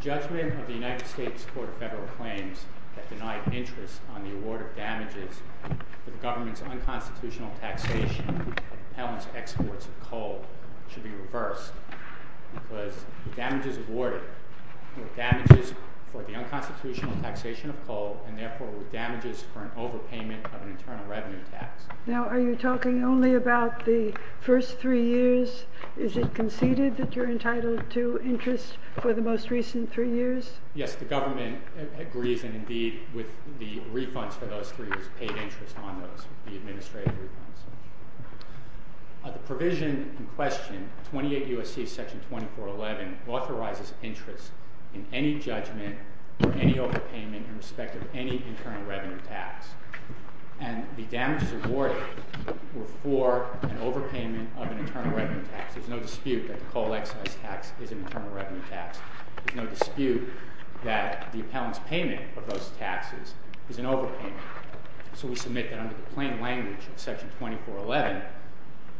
Judgement of the United States Court of Federal Claims that denied interest on the award of damages for the government's unconstitutional taxation of impounded exports of coal should be reversed, because the damages awarded were damages for the unconstitutional taxation of coal, and therefore were damages for an overpayment of an internal revenue tax. Now, are you talking only about the first three years? Is it conceded that you're entitled to interest for the most recent three years? Yes, the government agrees, and indeed, with the refunds for those three years, paid interest on those, the administrative refunds. The provision in question, 28 U.S.C. Section 2411, authorizes interest in any judgment for any overpayment in respect of any internal revenue tax, and the damages awarded were for an overpayment of an internal revenue tax. There's no dispute that the coal excise tax is an internal revenue tax. There's no dispute that the impound's payment of those taxes is an overpayment. So we submit that under the plain language of Section 2411,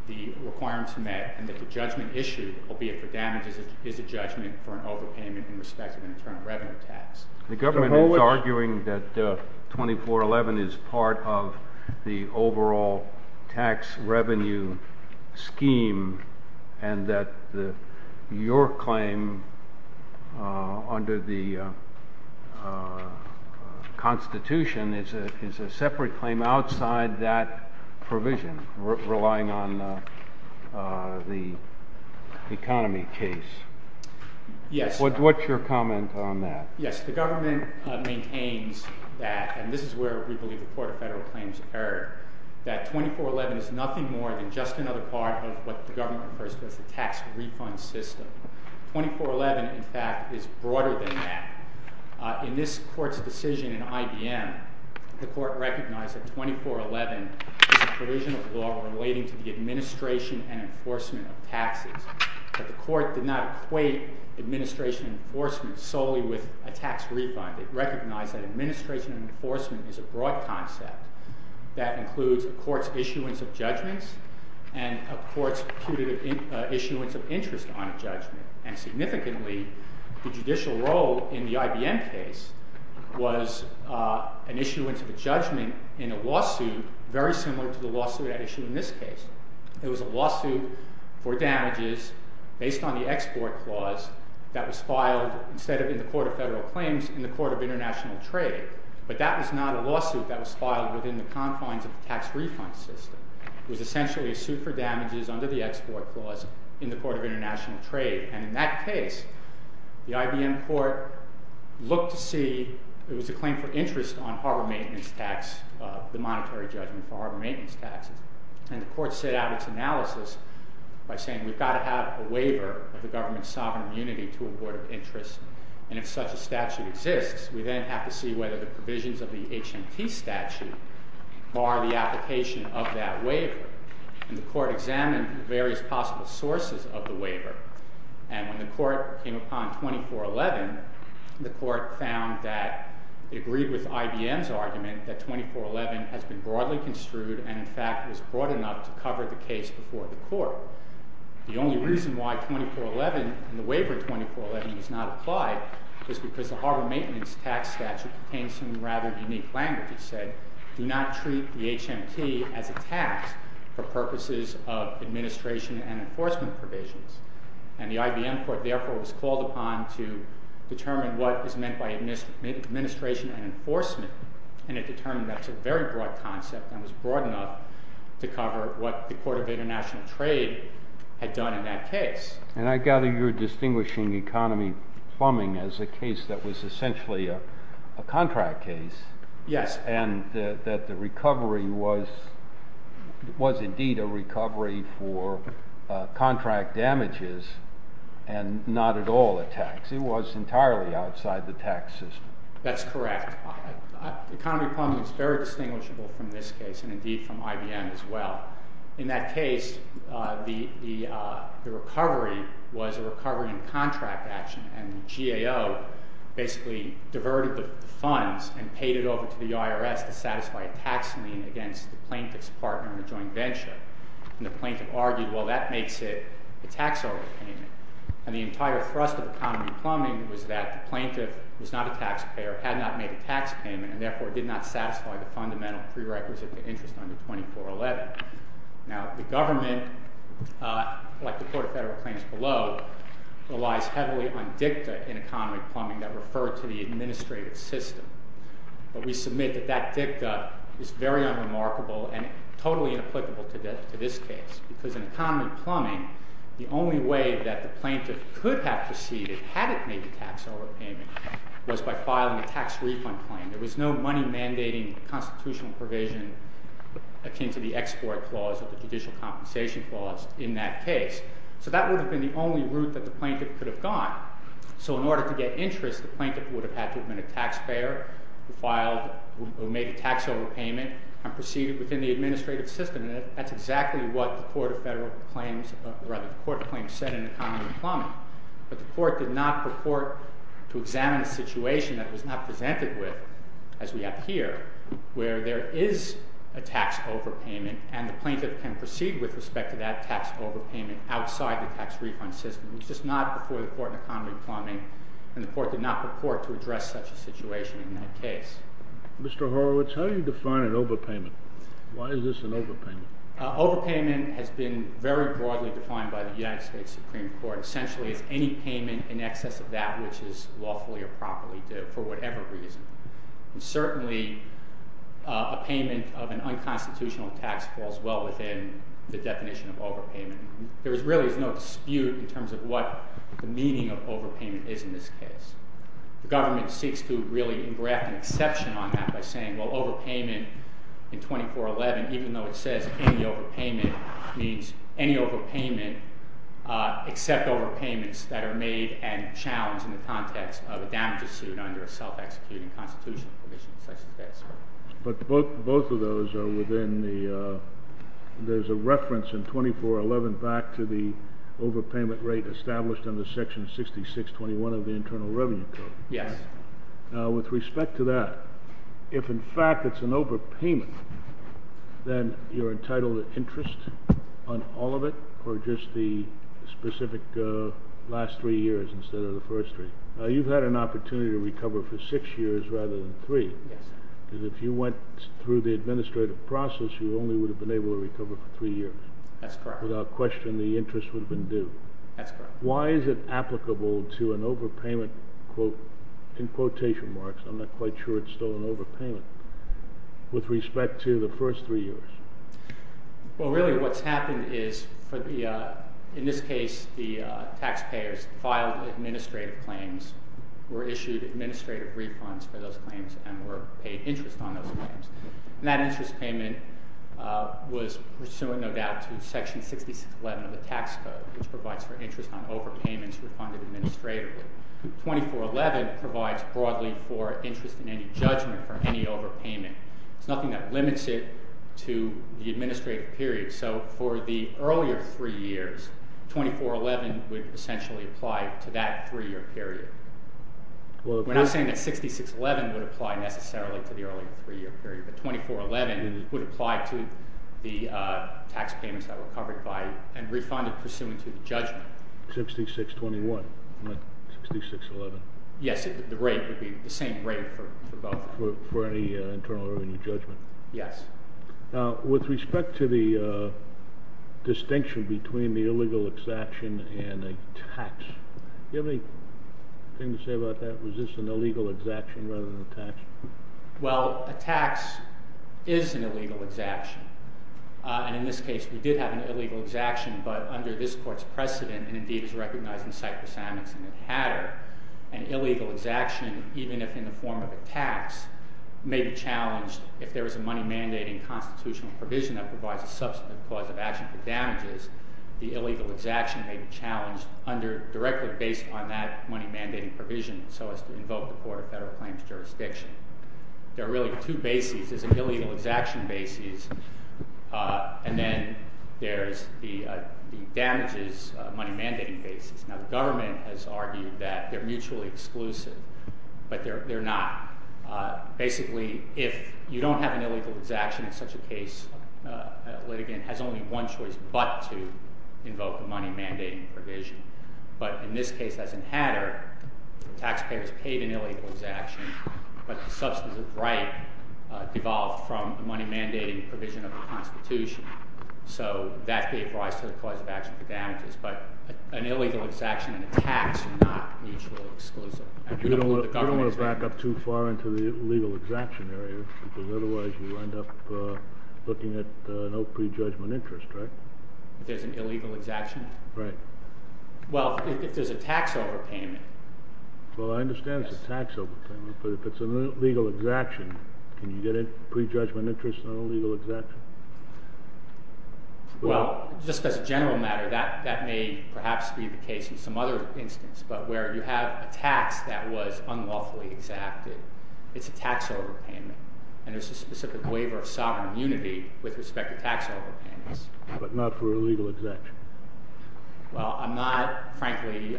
the requirements met, and that the judgment issued, albeit for damages, is a judgment for an overpayment in respect of an internal revenue tax. The government is arguing that 2411 is part of the overall tax revenue scheme, and that your claim under the Constitution is a separate claim outside that provision, relying on the economy case. Yes. What's your comment on that? Yes, the government maintains that, and this is where we believe the Court of Federal Claims that 2411 is nothing more than just another part of what the government refers to as the tax refund system. 2411, in fact, is broader than that. In this Court's decision in IBM, the Court recognized that 2411 is a provision of law relating to the administration and enforcement of taxes, but the Court did not equate administration and enforcement solely with a tax refund. It recognized that administration and enforcement is a broad concept that includes a court's issuance of judgments and a court's putative issuance of interest on a judgment. And significantly, the judicial role in the IBM case was an issuance of a judgment in a lawsuit very similar to the lawsuit at issue in this case. It was a lawsuit for damages based on the export clause that was filed, instead of in the Court of Federal Claims, in the Court of International Trade. But that was not a lawsuit that was filed within the confines of the tax refund system. It was essentially a suit for damages under the export clause in the Court of International Trade. And in that case, the IBM Court looked to see it was a claim for interest on harbor maintenance tax, the monetary judgment for harbor maintenance taxes. And the Court set out its analysis by saying we've got to have a waiver of the government's sovereign immunity to a board of interest. And if such a statute exists, we then have to see whether the provisions of the HMT statute bar the application of that waiver. And the Court examined the various possible sources of the waiver. And when the Court came upon 2411, the Court found that it agreed with IBM's argument that 2411 has been broadly construed and, in fact, was broad enough to cover the case before the Court. The only reason why 2411 and the waiver in 2411 does not apply is because the harbor maintenance tax statute contains some rather unique language. It said, do not treat the HMT as a tax for purposes of administration and enforcement provisions. And the IBM Court, therefore, was called upon to determine what is meant by administration and enforcement. And it determined that's a very broad concept and was broad enough to cover what the Court of International Trade had done in that case. And I gather you're distinguishing economy plumbing as a case that was essentially a contract case. Yes. And that the recovery was indeed a recovery for contract damages and not at all a tax. It was entirely outside the tax system. That's correct. Economy plumbing is very distinguishable from this case and indeed from IBM as well. In that case, the recovery was a recovery in contract action. And the GAO basically diverted the funds and paid it over to the IRS to satisfy a tax lien against the plaintiff's partner in a joint venture. And the plaintiff argued, well, that makes it a tax overpayment. And the entire thrust of economy plumbing was that the plaintiff was not a taxpayer, had not made a tax payment, and therefore did not satisfy the fundamental prerequisite of the interest under 2411. Now, the government, like the Court of Federal Claims below, relies heavily on dicta in economy plumbing that refer to the administrative system. But we submit that that dicta is very unremarkable and totally inapplicable to this case. Because in economy plumbing, the only way that the plaintiff could have proceeded, had it made a tax overpayment, was by filing a tax refund claim. There was no money mandating constitutional provision akin to the Export Clause or the Judicial Compensation Clause in that case. So that would have been the only route that the plaintiff could have gone. So in order to get interest, the plaintiff would have had to have been a taxpayer who made a tax overpayment and proceeded within the administrative system. And that's exactly what the Court of Federal Claims, or rather the Court of Claims, said in economy plumbing. But the Court did not purport to examine a situation that was not presented with, as we have here, where there is a tax overpayment and the plaintiff can proceed with respect to that tax overpayment outside the tax refund system. It was just not before the Court in economy plumbing. And the Court did not purport to address such a situation in that case. Mr. Horowitz, how do you define an overpayment? Why is this an overpayment? Overpayment has been very broadly defined by the United States Supreme Court. Essentially, it's any payment in excess of that which is lawfully or properly due for whatever reason. And certainly a payment of an unconstitutional tax falls well within the definition of overpayment. There really is no dispute in terms of what the meaning of overpayment is in this case. The government seeks to really embrace an exception on that by saying, well, overpayment in 2411, even though it says any overpayment, means any overpayment except overpayments that are made and challenged in the context of a damages suit under a self-executing constitutional provision such as this. But both of those are within the – there's a reference in 2411 back to the overpayment rate established under Section 6621 of the Internal Revenue Code. Yes. Now, with respect to that, if in fact it's an overpayment, then you're entitled to interest on all of it or just the specific last three years instead of the first three? You've had an opportunity to recover for six years rather than three. Yes. Because if you went through the administrative process, you only would have been able to recover for three years. That's correct. Without question, the interest would have been due. That's correct. Why is it applicable to an overpayment, quote, in quotation marks, I'm not quite sure it's still an overpayment, with respect to the first three years? Well, really what's happened is for the – in this case, the taxpayers filed administrative claims, were issued administrative refunds for those claims, and were paid interest on those claims. And that interest payment was pursuant, no doubt, to Section 6611 of the Tax Code, which provides for interest on overpayments refunded administratively. 2411 provides broadly for interest in any judgment or any overpayment. It's nothing that limits it to the administrative period. So for the earlier three years, 2411 would essentially apply to that three-year period. We're not saying that 6611 would apply necessarily to the earlier three-year period, but 2411 would apply to the tax payments that were covered by and refunded pursuant to the judgment. 6621. 6611. Yes, the rate would be the same rate for both. For any internal or any judgment. Yes. Now, with respect to the distinction between the illegal exaction and a tax, do you have anything to say about that? Was this an illegal exaction rather than a tax? Well, a tax is an illegal exaction. And in this case, we did have an illegal exaction, but under this Court's precedent, and indeed it's recognized in Cyprus, Amundsen, and Hatter, an illegal exaction, even if in the form of a tax, may be challenged if there is a money-mandating constitutional provision that provides a subsequent cause of action for damages. The illegal exaction may be challenged directly based on that money-mandating provision so as to invoke the Court of Federal Claims jurisdiction. There are really two bases. There's an illegal exaction basis, and then there's the damages money-mandating basis. Now, the government has argued that they're mutually exclusive, but they're not. Basically, if you don't have an illegal exaction in such a case, a litigant has only one choice but to invoke the money-mandating provision. But in this case, as in Hatter, the taxpayer is paid an illegal exaction, but the substantive right devolved from the money-mandating provision of the Constitution. So that gave rise to the cause of action for damages, but an illegal exaction and a tax are not mutually exclusive. You don't want to back up too far into the legal exaction area because otherwise you end up looking at no prejudgment interest, right? There's an illegal exaction? Right. Well, if there's a tax overpayment. Well, I understand it's a tax overpayment, but if it's an illegal exaction, can you get a prejudgment interest on an illegal exaction? Well, just as a general matter, that may perhaps be the case in some other instance, but where you have a tax that was unlawfully exacted, it's a tax overpayment, and there's a specific waiver of sovereign immunity with respect to tax overpayments. But not for an illegal exaction? Well, I'm not, frankly,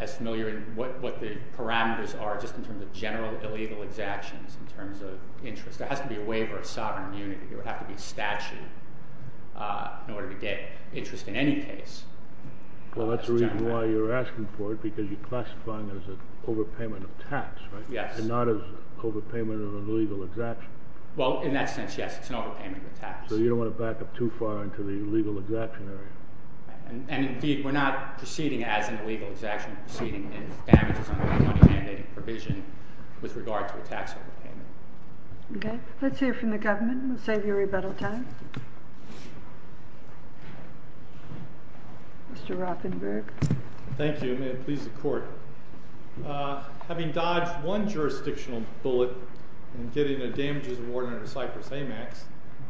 as familiar in what the parameters are just in terms of general illegal exactions in terms of interest. There has to be a waiver of sovereign immunity. There would have to be statute in order to get interest in any case. Well, that's the reason why you're asking for it because you're classifying it as an overpayment of tax, right? Yes. And not as overpayment of an illegal exaction. Well, in that sense, yes, it's an overpayment of tax. So you don't want to back up too far into the illegal exaction area. And, indeed, we're not proceeding as an illegal exaction. We're proceeding in damages under the money-mandating provision with regard to a tax overpayment. Okay. Let's hear from the government. We'll save you rebuttal time. Mr. Rothenberg. Thank you. May it please the Court. Having dodged one jurisdictional bullet in getting a damages award under the Cypress-AMAX,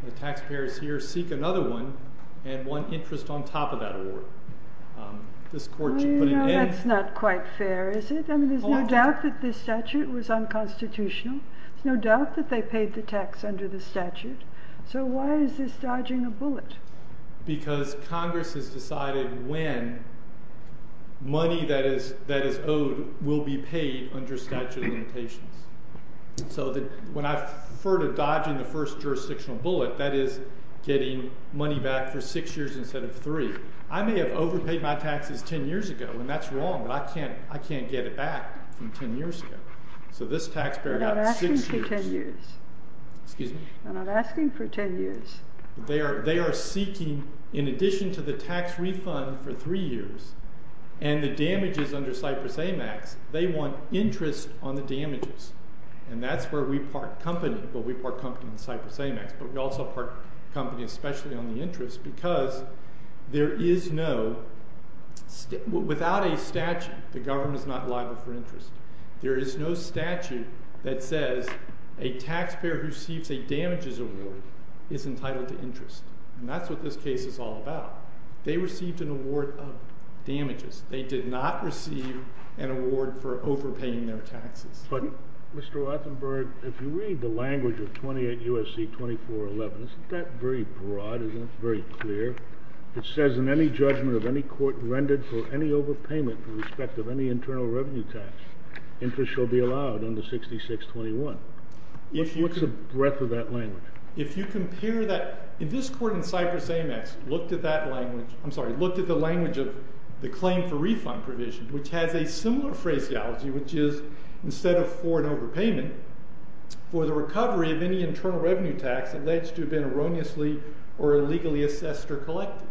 the taxpayers here seek another one and want interest on top of that award. This Court should put an end to it. That's not quite fair, is it? I mean, there's no doubt that this statute was unconstitutional. There's no doubt that they paid the tax under the statute. So why is this dodging a bullet? Because Congress has decided when money that is owed will be paid under statute of limitations. So when I refer to dodging the first jurisdictional bullet, that is getting money back for six years instead of three. I may have overpaid my taxes ten years ago, and that's wrong, but I can't get it back from ten years ago. So this taxpayer got six years. We're not asking for ten years. Excuse me? We're not asking for ten years. They are seeking, in addition to the tax refund for three years and the damages under Cypress-AMAX, they want interest on the damages. And that's where we part company. Well, we part company with Cypress-AMAX, but we also part company especially on the interest because there is no, without a statute, the government is not liable for interest. There is no statute that says a taxpayer who receives a damages award is entitled to interest. And that's what this case is all about. They received an award of damages. They did not receive an award for overpaying their taxes. But, Mr. Rothenberg, if you read the language of 28 U.S.C. 2411, isn't that very broad, isn't it? It's very clear. It says in any judgment of any court rendered for any overpayment in respect of any internal revenue tax, interest shall be allowed under 6621. What's the breadth of that language? If you compare that, if this court in Cypress-AMAX looked at that language, I'm sorry, looked at the language of the claim for refund provision, which has a similar phraseology, which is instead of for an overpayment, for the recovery of any internal revenue tax alleged to have been erroneously or illegally assessed or collected.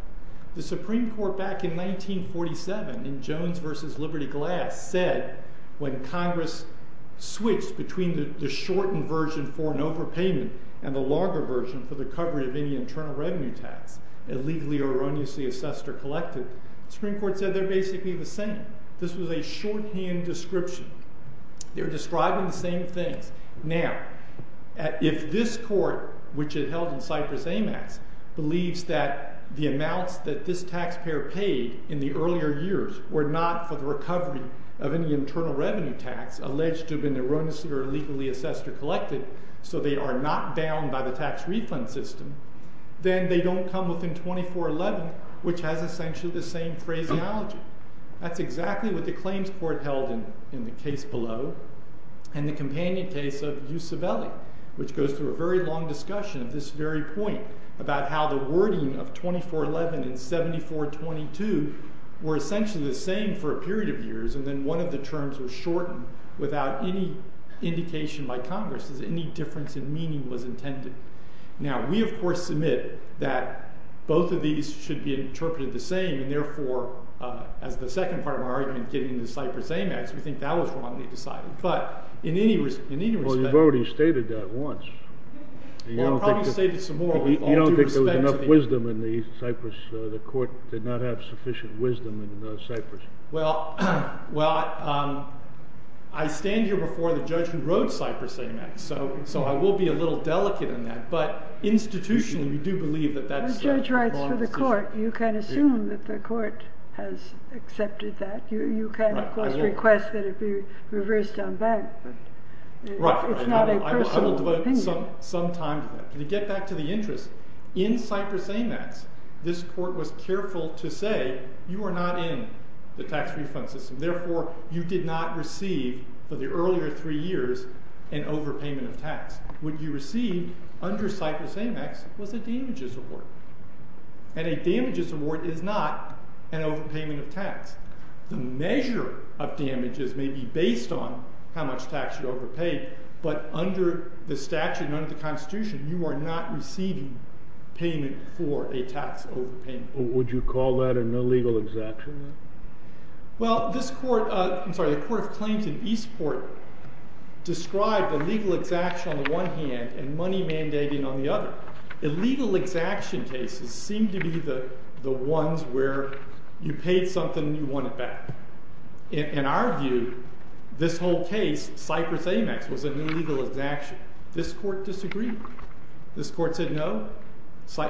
The Supreme Court back in 1947 in Jones v. Liberty Glass said when Congress switched between the shortened version for an overpayment and the longer version for the recovery of any internal revenue tax alleged to have been illegally or erroneously assessed or collected, the Supreme Court said they're basically the same. This was a shorthand description. They were describing the same things. Now, if this court, which is held in Cypress-AMAX, believes that the amounts that this taxpayer paid in the earlier years were not for the recovery of any internal revenue tax alleged to have been erroneously or illegally assessed or collected, so they are not bound by the tax refund system, then they don't come within 2411, which has essentially the same phraseology. That's exactly what the claims court held in the case below and the companion case of Ucivelli, which goes through a very long discussion of this very point about how the wording of 2411 and 7422 were essentially the same for a period of years and then one of the terms was shortened without any indication by Congress that any difference in meaning was intended. Now, we of course submit that both of these should be interpreted the same and therefore, as the second part of my argument getting into Cypress-AMAX, we think that was wrongly decided. But in any respect... Well, you've already stated that once. Well, I've probably stated some more. You don't think there was enough wisdom in the Cypress... the court did not have sufficient wisdom in Cypress. Well, I stand here before the judge who wrote Cypress-AMAX, so I will be a little delicate on that, but institutionally, we do believe that that's... The judge writes for the court. You can assume that the court has accepted that. You can, of course, request that it be reversed on bank, but it's not a personal opinion. I will devote some time to that. To get back to the interest, in Cypress-AMAX, this court was careful to say you are not in the tax refund system, therefore, you did not receive for the earlier three years an overpayment of tax. What you received under Cypress-AMAX was a damages award. And a damages award is not an overpayment of tax. The measure of damages may be based on how much tax you overpaid, but under the statute, under the Constitution, you are not receiving payment for a tax overpayment. Would you call that an illegal exaction? Well, this court... described illegal exaction on the one hand and money mandating on the other. Illegal exaction cases seem to be the ones where you paid something and you want it back. In our view, this whole case, Cypress-AMAX was an illegal exaction. This court disagreed. This court said no.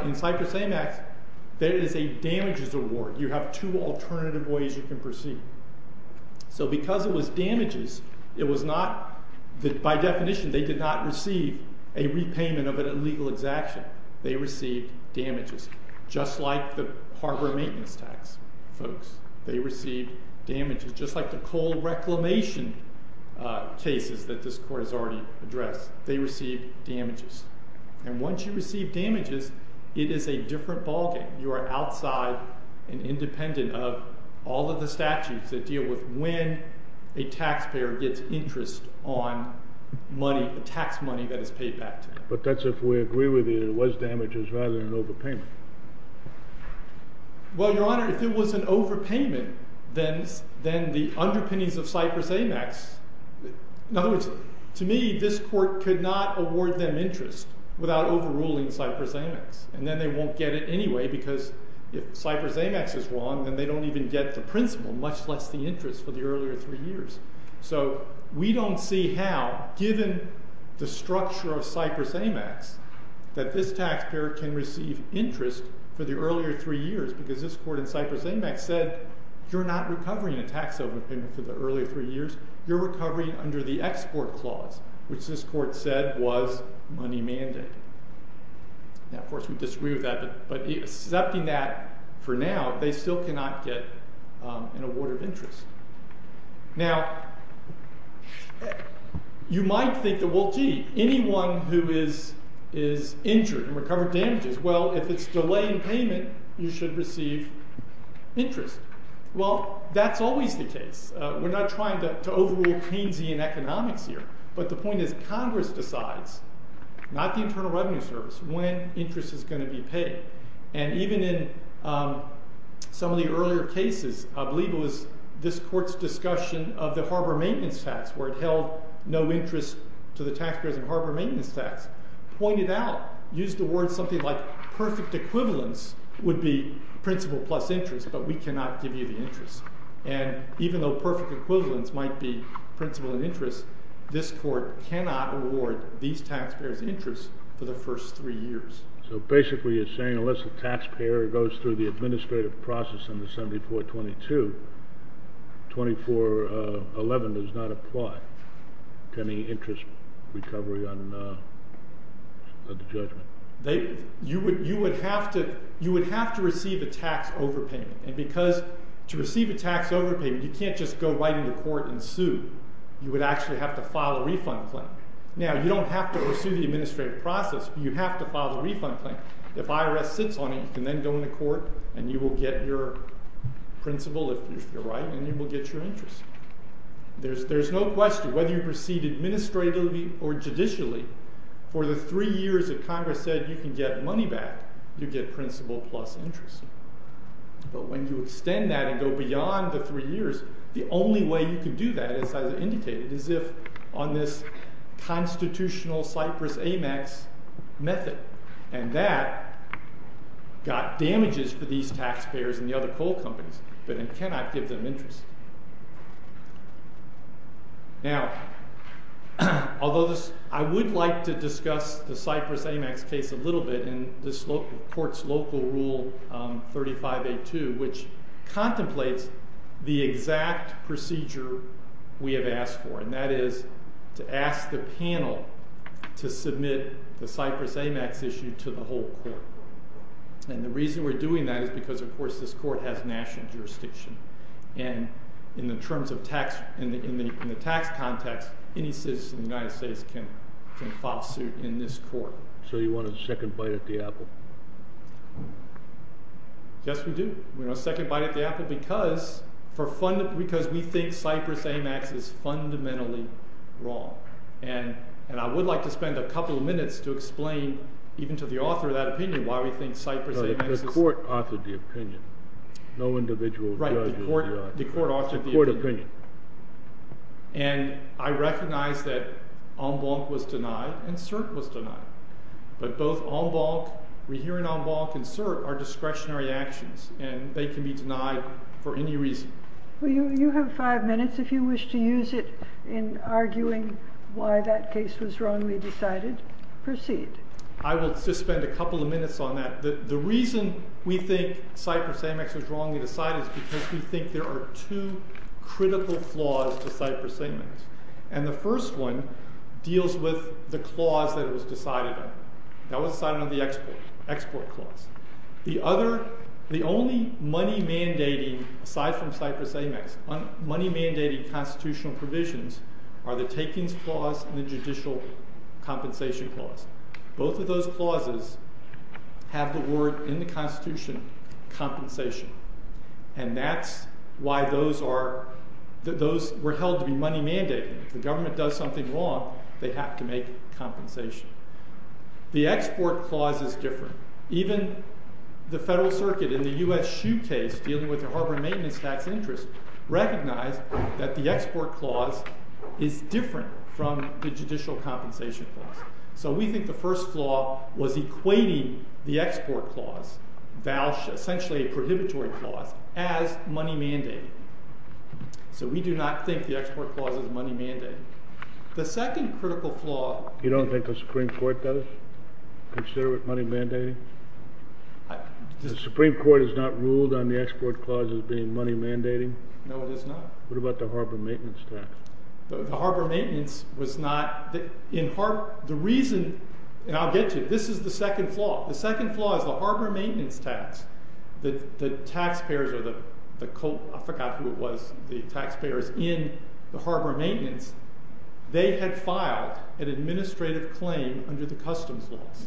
In Cypress-AMAX, there is a damages award. You have two alternative ways you can proceed. So because it was damages, it was not... By definition, they did not receive a repayment of an illegal exaction. They received damages. Just like the harbor maintenance tax, folks. They received damages. Just like the coal reclamation cases that this court has already addressed. They received damages. And once you receive damages, it is a different ballgame. You are outside and independent of all of the statutes that deal with when a taxpayer gets interest on money, tax money that is paid back to them. But that's if we agree with you that it was damages rather than an overpayment. Well, Your Honor, if it was an overpayment, then the underpinnings of Cypress-AMAX... In other words, to me, this court could not award them interest without overruling Cypress-AMAX. And then they won't get it anyway because if Cypress-AMAX is wrong, then they don't even get the principle, much less the interest for the earlier three years. So we don't see how, given the structure of Cypress-AMAX, that this taxpayer can receive interest for the earlier three years because this court in Cypress-AMAX said you're not recovering a tax overpayment for the earlier three years. You're recovering under the export clause, which this court said was money mandated. Now, of course, we disagree with that, but accepting that for now, they still cannot get an award of interest. Now, you might think that, well, gee, anyone who is injured and recovered damages, well, if it's delaying payment, you should receive interest. Well, that's always the case. We're not trying to overrule Keynesian economics here, but the point is Congress decides, not the Internal Revenue Service, when interest is going to be paid. And even in some of the earlier cases, I believe it was this court's discussion of the Harbor Maintenance Tax, where it held no interest to the taxpayers of Harbor Maintenance Tax, pointed out, used the word something like perfect equivalence would be principal plus interest, but we cannot give you the interest. And even though perfect equivalence might be principal and interest, this court cannot award these taxpayers interest for the first three years. So basically you're saying, unless the taxpayer goes through the administrative process under 7422, 2411 does not apply to any interest recovery on the judgment. You would have to receive a tax overpayment. And because to receive a tax overpayment, you can't just go right into court and sue. You would actually have to file a refund claim. Now, you don't have to pursue the administrative process, but you have to file the refund claim. If IRS sits on it, you can then go into court and you will get your principal, if you're right, and you will get your interest. There's no question, whether you proceed administratively or judicially, for the three years that Congress said you can get money back, you get principal plus interest. But when you extend that and go beyond the three years, the only way you can do that, as I indicated, is if on this constitutional Cypress-Amex method. And that got damages for these taxpayers and the other coal companies, but it cannot give them interest. Now, although I would like to discuss the Cypress-Amex case a little bit in this court's local rule 35A2, which contemplates the exact procedure we have asked for, and that is to ask the panel to submit the Cypress-Amex issue to the whole court. And the reason we're doing that is because, of course, this court has national jurisdiction. And in the terms of tax... in the tax context, any citizen of the United States can file suit in this court. So you want a second bite at the apple? Yes, we do. We want a second bite at the apple because we think Cypress-Amex is fundamentally wrong. And I would like to spend a couple of minutes to explain, even to the author of that opinion, why we think Cypress-Amex is... No, the court authored the opinion. No individual judge... Right, the court authored the opinion. And I recognize that en banc was denied and cert was denied. But both en banc, we hear in en banc and cert, are discretionary actions, and they can be denied for any reason. Well, you have five minutes. If you wish to use it in arguing why that case was wrongly decided, proceed. I will just spend a couple of minutes on that. The reason we think Cypress-Amex was wrongly decided is because we think there are two critical flaws to Cypress-Amex. And the first one deals with the clause that it was decided on. That was decided on the export clause. The other... The only money-mandating, aside from Cypress-Amex, money-mandating constitutional provisions are the takings clause and the judicial compensation clause. Both of those clauses have the word in the Constitution compensation. And that's why those are... Those were held to be money-mandating. If the government does something wrong, they have to make compensation. The export clause is different. Even the Federal Circuit in the U.S. SHU case dealing with the harbor maintenance tax interest recognized that the export clause is different from the judicial compensation clause. So we think the first flaw was equating the export clause, essentially a prohibitory clause, as money-mandating. So we do not think the export clause is money-mandating. The second critical flaw... You don't think the Supreme Court does consider it money-mandating? The Supreme Court has not ruled on the export clause as being money-mandating? No, it has not. What about the harbor maintenance tax? The harbor maintenance was not... The reason... And I'll get to it. This is the second flaw. The second flaw is the harbor maintenance tax. The taxpayers or the... I forgot who it was. The taxpayers in the harbor maintenance, they had filed an administrative claim under the customs laws.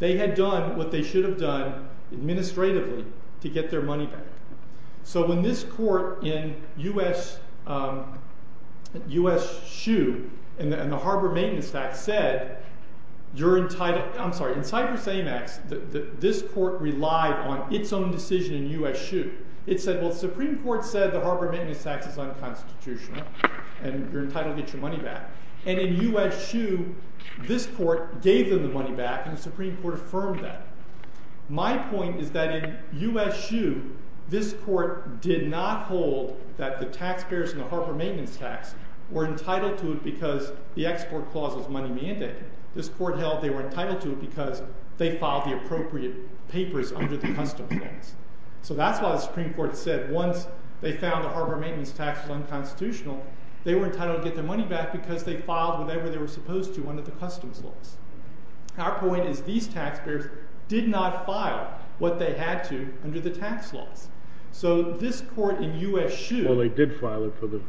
They had done what they should have done administratively to get their money back. So when this court in U.S. SHU and the harbor maintenance tax said you're entitled... I'm sorry. In Cyprus Amex, this court relied on its own decision in U.S. SHU. It said, well, the Supreme Court said the harbor maintenance tax is unconstitutional and you're entitled to get your money back. And in U.S. SHU, this court gave them the money back and the Supreme Court affirmed that. My point is that in U.S. SHU, this court did not hold that the taxpayers in the harbor maintenance tax were entitled to it because the export clause was money-mandating. This court held they were entitled to it because they filed the appropriate papers under the customs laws. So that's why the Supreme Court said once they found the harbor maintenance tax was unconstitutional, they were entitled to get their money back because they filed whatever they were supposed to under the customs laws. Our point is these taxpayers did not file what they had to under the tax laws. So this court in U.S. SHU... Well, they did file it for the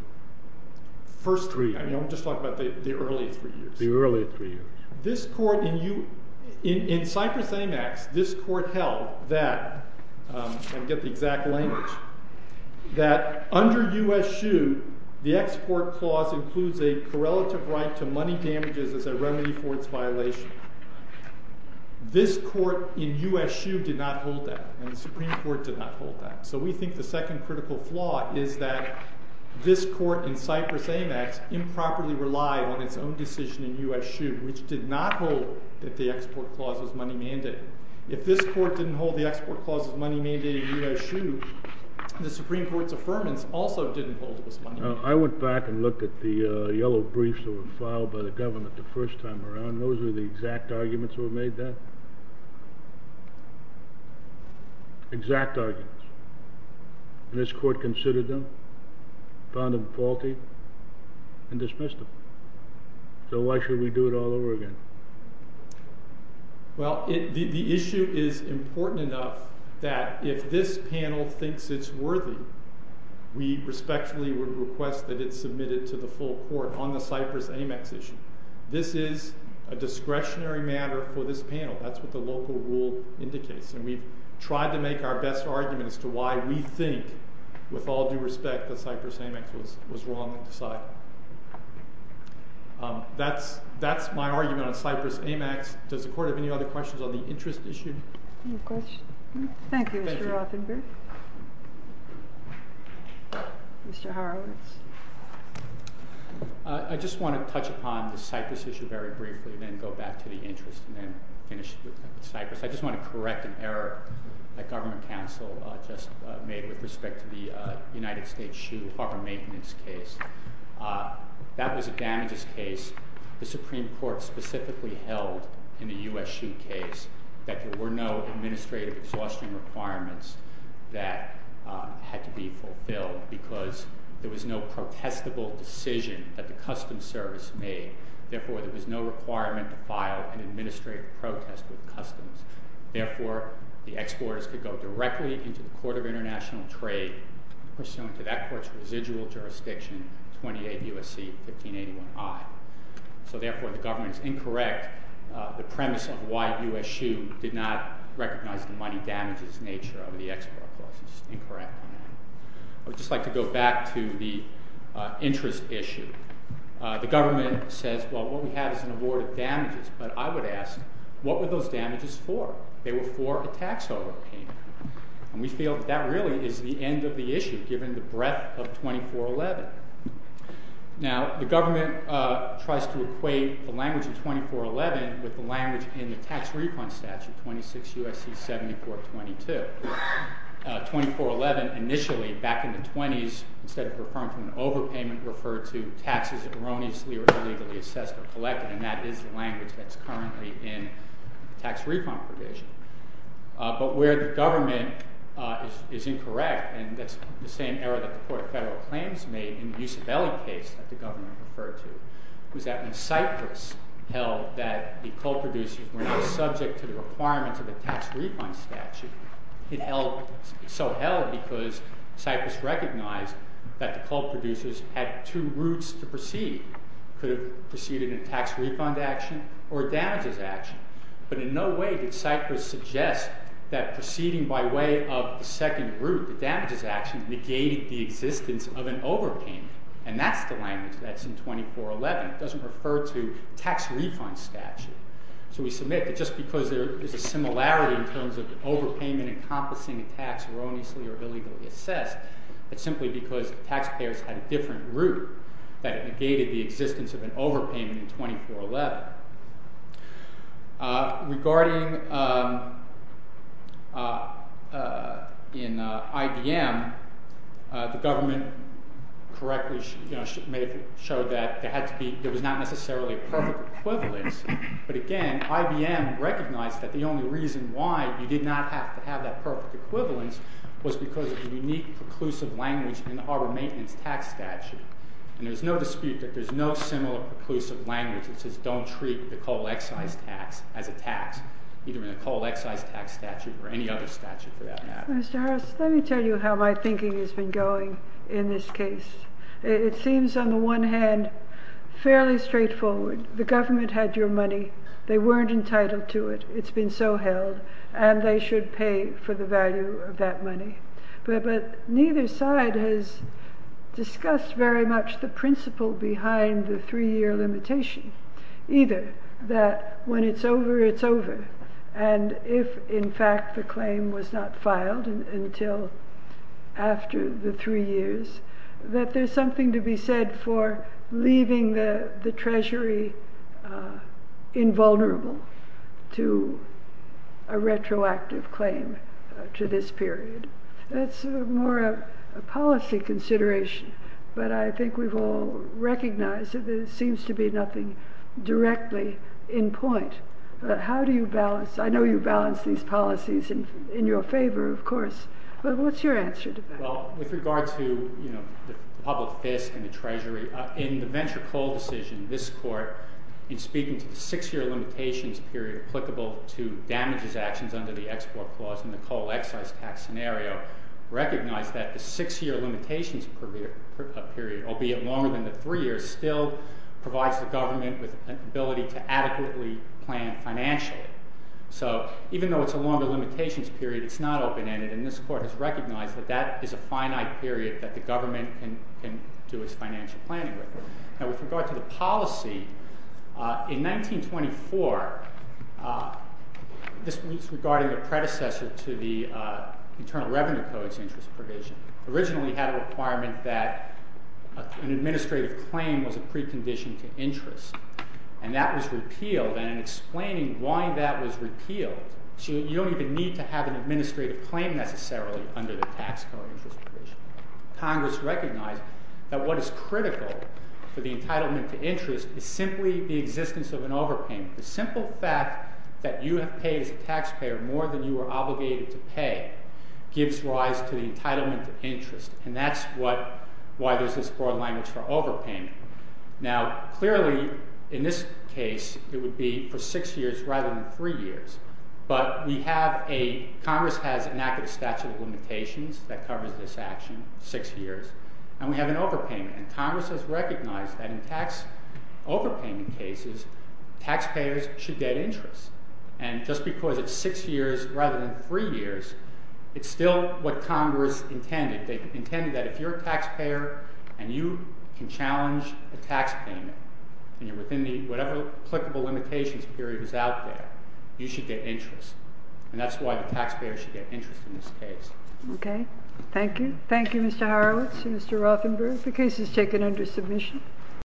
first three years. I'm just talking about the early three years. In Cyprus Amex, this court held that I don't get the exact language. That under U.S. SHU, the export clause includes a correlative right to money damages as a remedy for its violation. This court in U.S. SHU did not hold that, and the Supreme Court did not hold that. So we think the second critical flaw is that this court in Cyprus Amex improperly relied on its own decision in U.S. SHU, which did not hold that the export clause was money-mandating. If this court didn't hold the export clause as money-mandating in U.S. SHU, the Supreme Court's affirmance also didn't hold it as money-mandating. I went back and looked at the yellow briefs that were filed by the government the first time around. Those were the exact arguments that were made then. Exact arguments. And this court considered them, found them faulty, and dismissed them. So why should we do it all over again? Well, the issue is important enough that if this panel thinks it's worthy, we respectfully would request that it's submitted to the full court on the Cyprus Amex issue. This is a discretionary matter for this panel. That's what the local rule indicates. And we tried to make our best argument as to why we think, with all due respect, that Cyprus Amex was wrong in deciding. That's my argument on Cyprus Amex. Does anyone have a question? Thank you, Mr. Rothenberg. Mr. Horowitz. I just want to touch upon the Cyprus issue very briefly, then go back to the interest, and then finish with Cyprus. I just want to correct an error that government counsel just made with respect to the United States shoe harbor maintenance case. That was a damages case the Supreme Court specifically held in the U.S. shoe case that there were no administrative exhaustion requirements that had to be fulfilled because there was no protestable decision that the customs service made. Therefore, there was no requirement to file an administrative protest with customs. Therefore, the exporters could go directly into the Court of International Trade, pursuant to that court's residual jurisdiction, 28 U.S.C. 1581i. So therefore, the government is incorrect. The premise of why U.S. shoe did not recognize the money damages nature of the export process is incorrect. I would just like to go back to the interest issue. The government says, well, what we have is an award of damages, but I would ask, what were those damages for? They were for a tax overpayment. And we feel that really is the end of the issue, given the breadth of 2411. Now, the government tries to equate the language of 2411 with the language in the tax refund statute, 26 U.S.C. 7422. 2411, initially, back in the 20s, instead of referring to an overpayment, referred to taxes erroneously or illegally assessed or collected. And that is the language that's currently in the tax refund provision. But where the government is incorrect, and that's the same error that the court of federal claims made in the Usabelli case that the government referred to, was that when Cyprus held that the coal producers were not subject to the requirements of the tax refund statute, it held because Cyprus recognized that the coal producers had two routes to proceed. Could have proceeded in a tax refund action or a damages action. But in no way did Cyprus suggest that proceeding by way of the second route, the damages action, negated the existence of an overpayment. And that's the language that's in 2411. It doesn't refer to tax refund statute. So we submit that just because there is a similarity in terms of overpayment encompassing a tax erroneously or illegally assessed, it's simply because taxpayers had a different route that it negated the existence of an overpayment in 2411. Regarding in IBM, the government correctly showed that there was not necessarily a perfect equivalence. But again, IBM recognized that the only reason why you did not have to have that perfect equivalence was because of the unique preclusive language in the harbor maintenance tax statute. And there's no dispute that there's no similar preclusive language that says don't treat the coal excise tax as a tax, either in a coal excise tax statute or any other statute for that matter. Mr. Harris, let me tell you how my thinking has been going in this case. It seems on the one hand, fairly straightforward. The government had your money. They weren't entitled to it. It's been so held. And they should pay for the value of that money. But neither side has discussed very much the principle behind the three year limitation. Either that when it's over, it's over. And if in fact the claim was not filed until after the three years, that there's something to be said for leaving the treasury invulnerable to a retroactive claim to this period. That's more a policy consideration. But I think we've all recognized that there seems to be nothing directly in point. How do you balance? I know you balance these policies in your favor, of course. What's your answer to that? Well, with regard to the public fist and the treasury, in the venture coal decision, this court, in speaking to the six year limitations period applicable to damages actions under the export clause in the coal excise tax scenario, recognized that the six year limitations period, albeit longer than the three years, still provides the government with an ability to adequately plan financially. So, even though it's a longer limitations period, it's not open-ended. And this court has recognized that that is a finite period that the government can do its financial planning with. Now, with regard to the policy, in 1924, this was regarding the predecessor to the Internal Revenue Code's interest provision. Originally, it had a requirement that an administrative claim was a precondition to interest. And that was repealed. And in explaining why that was repealed, you don't even need to have an administrative claim necessarily under the tax code interest provision. Congress recognized that what is critical for the entitlement to interest is simply the existence of an overpayment. The simple fact that you have paid as a taxpayer more than you were obligated to pay gives rise to the entitlement to interest. And that's why there's this broad language for overpayment. Now, clearly, in this case, it would be for six years rather than three years. But we have a Congress has an active statute of limitations that covers this action. Six years. And we have an overpayment. Congress has recognized that in tax overpayment cases, taxpayers should get interest. And just because it's six years rather than three years, it's still what Congress intended. They intended that if you're a taxpayer and you can challenge a tax payment, and you're within whatever applicable limitations period is out there, you should get interest. And that's why the taxpayer should get interest in this case. Okay. Thank you. Thank you, Mr. Horowitz and Mr. Rothenberg. The case is taken under submission.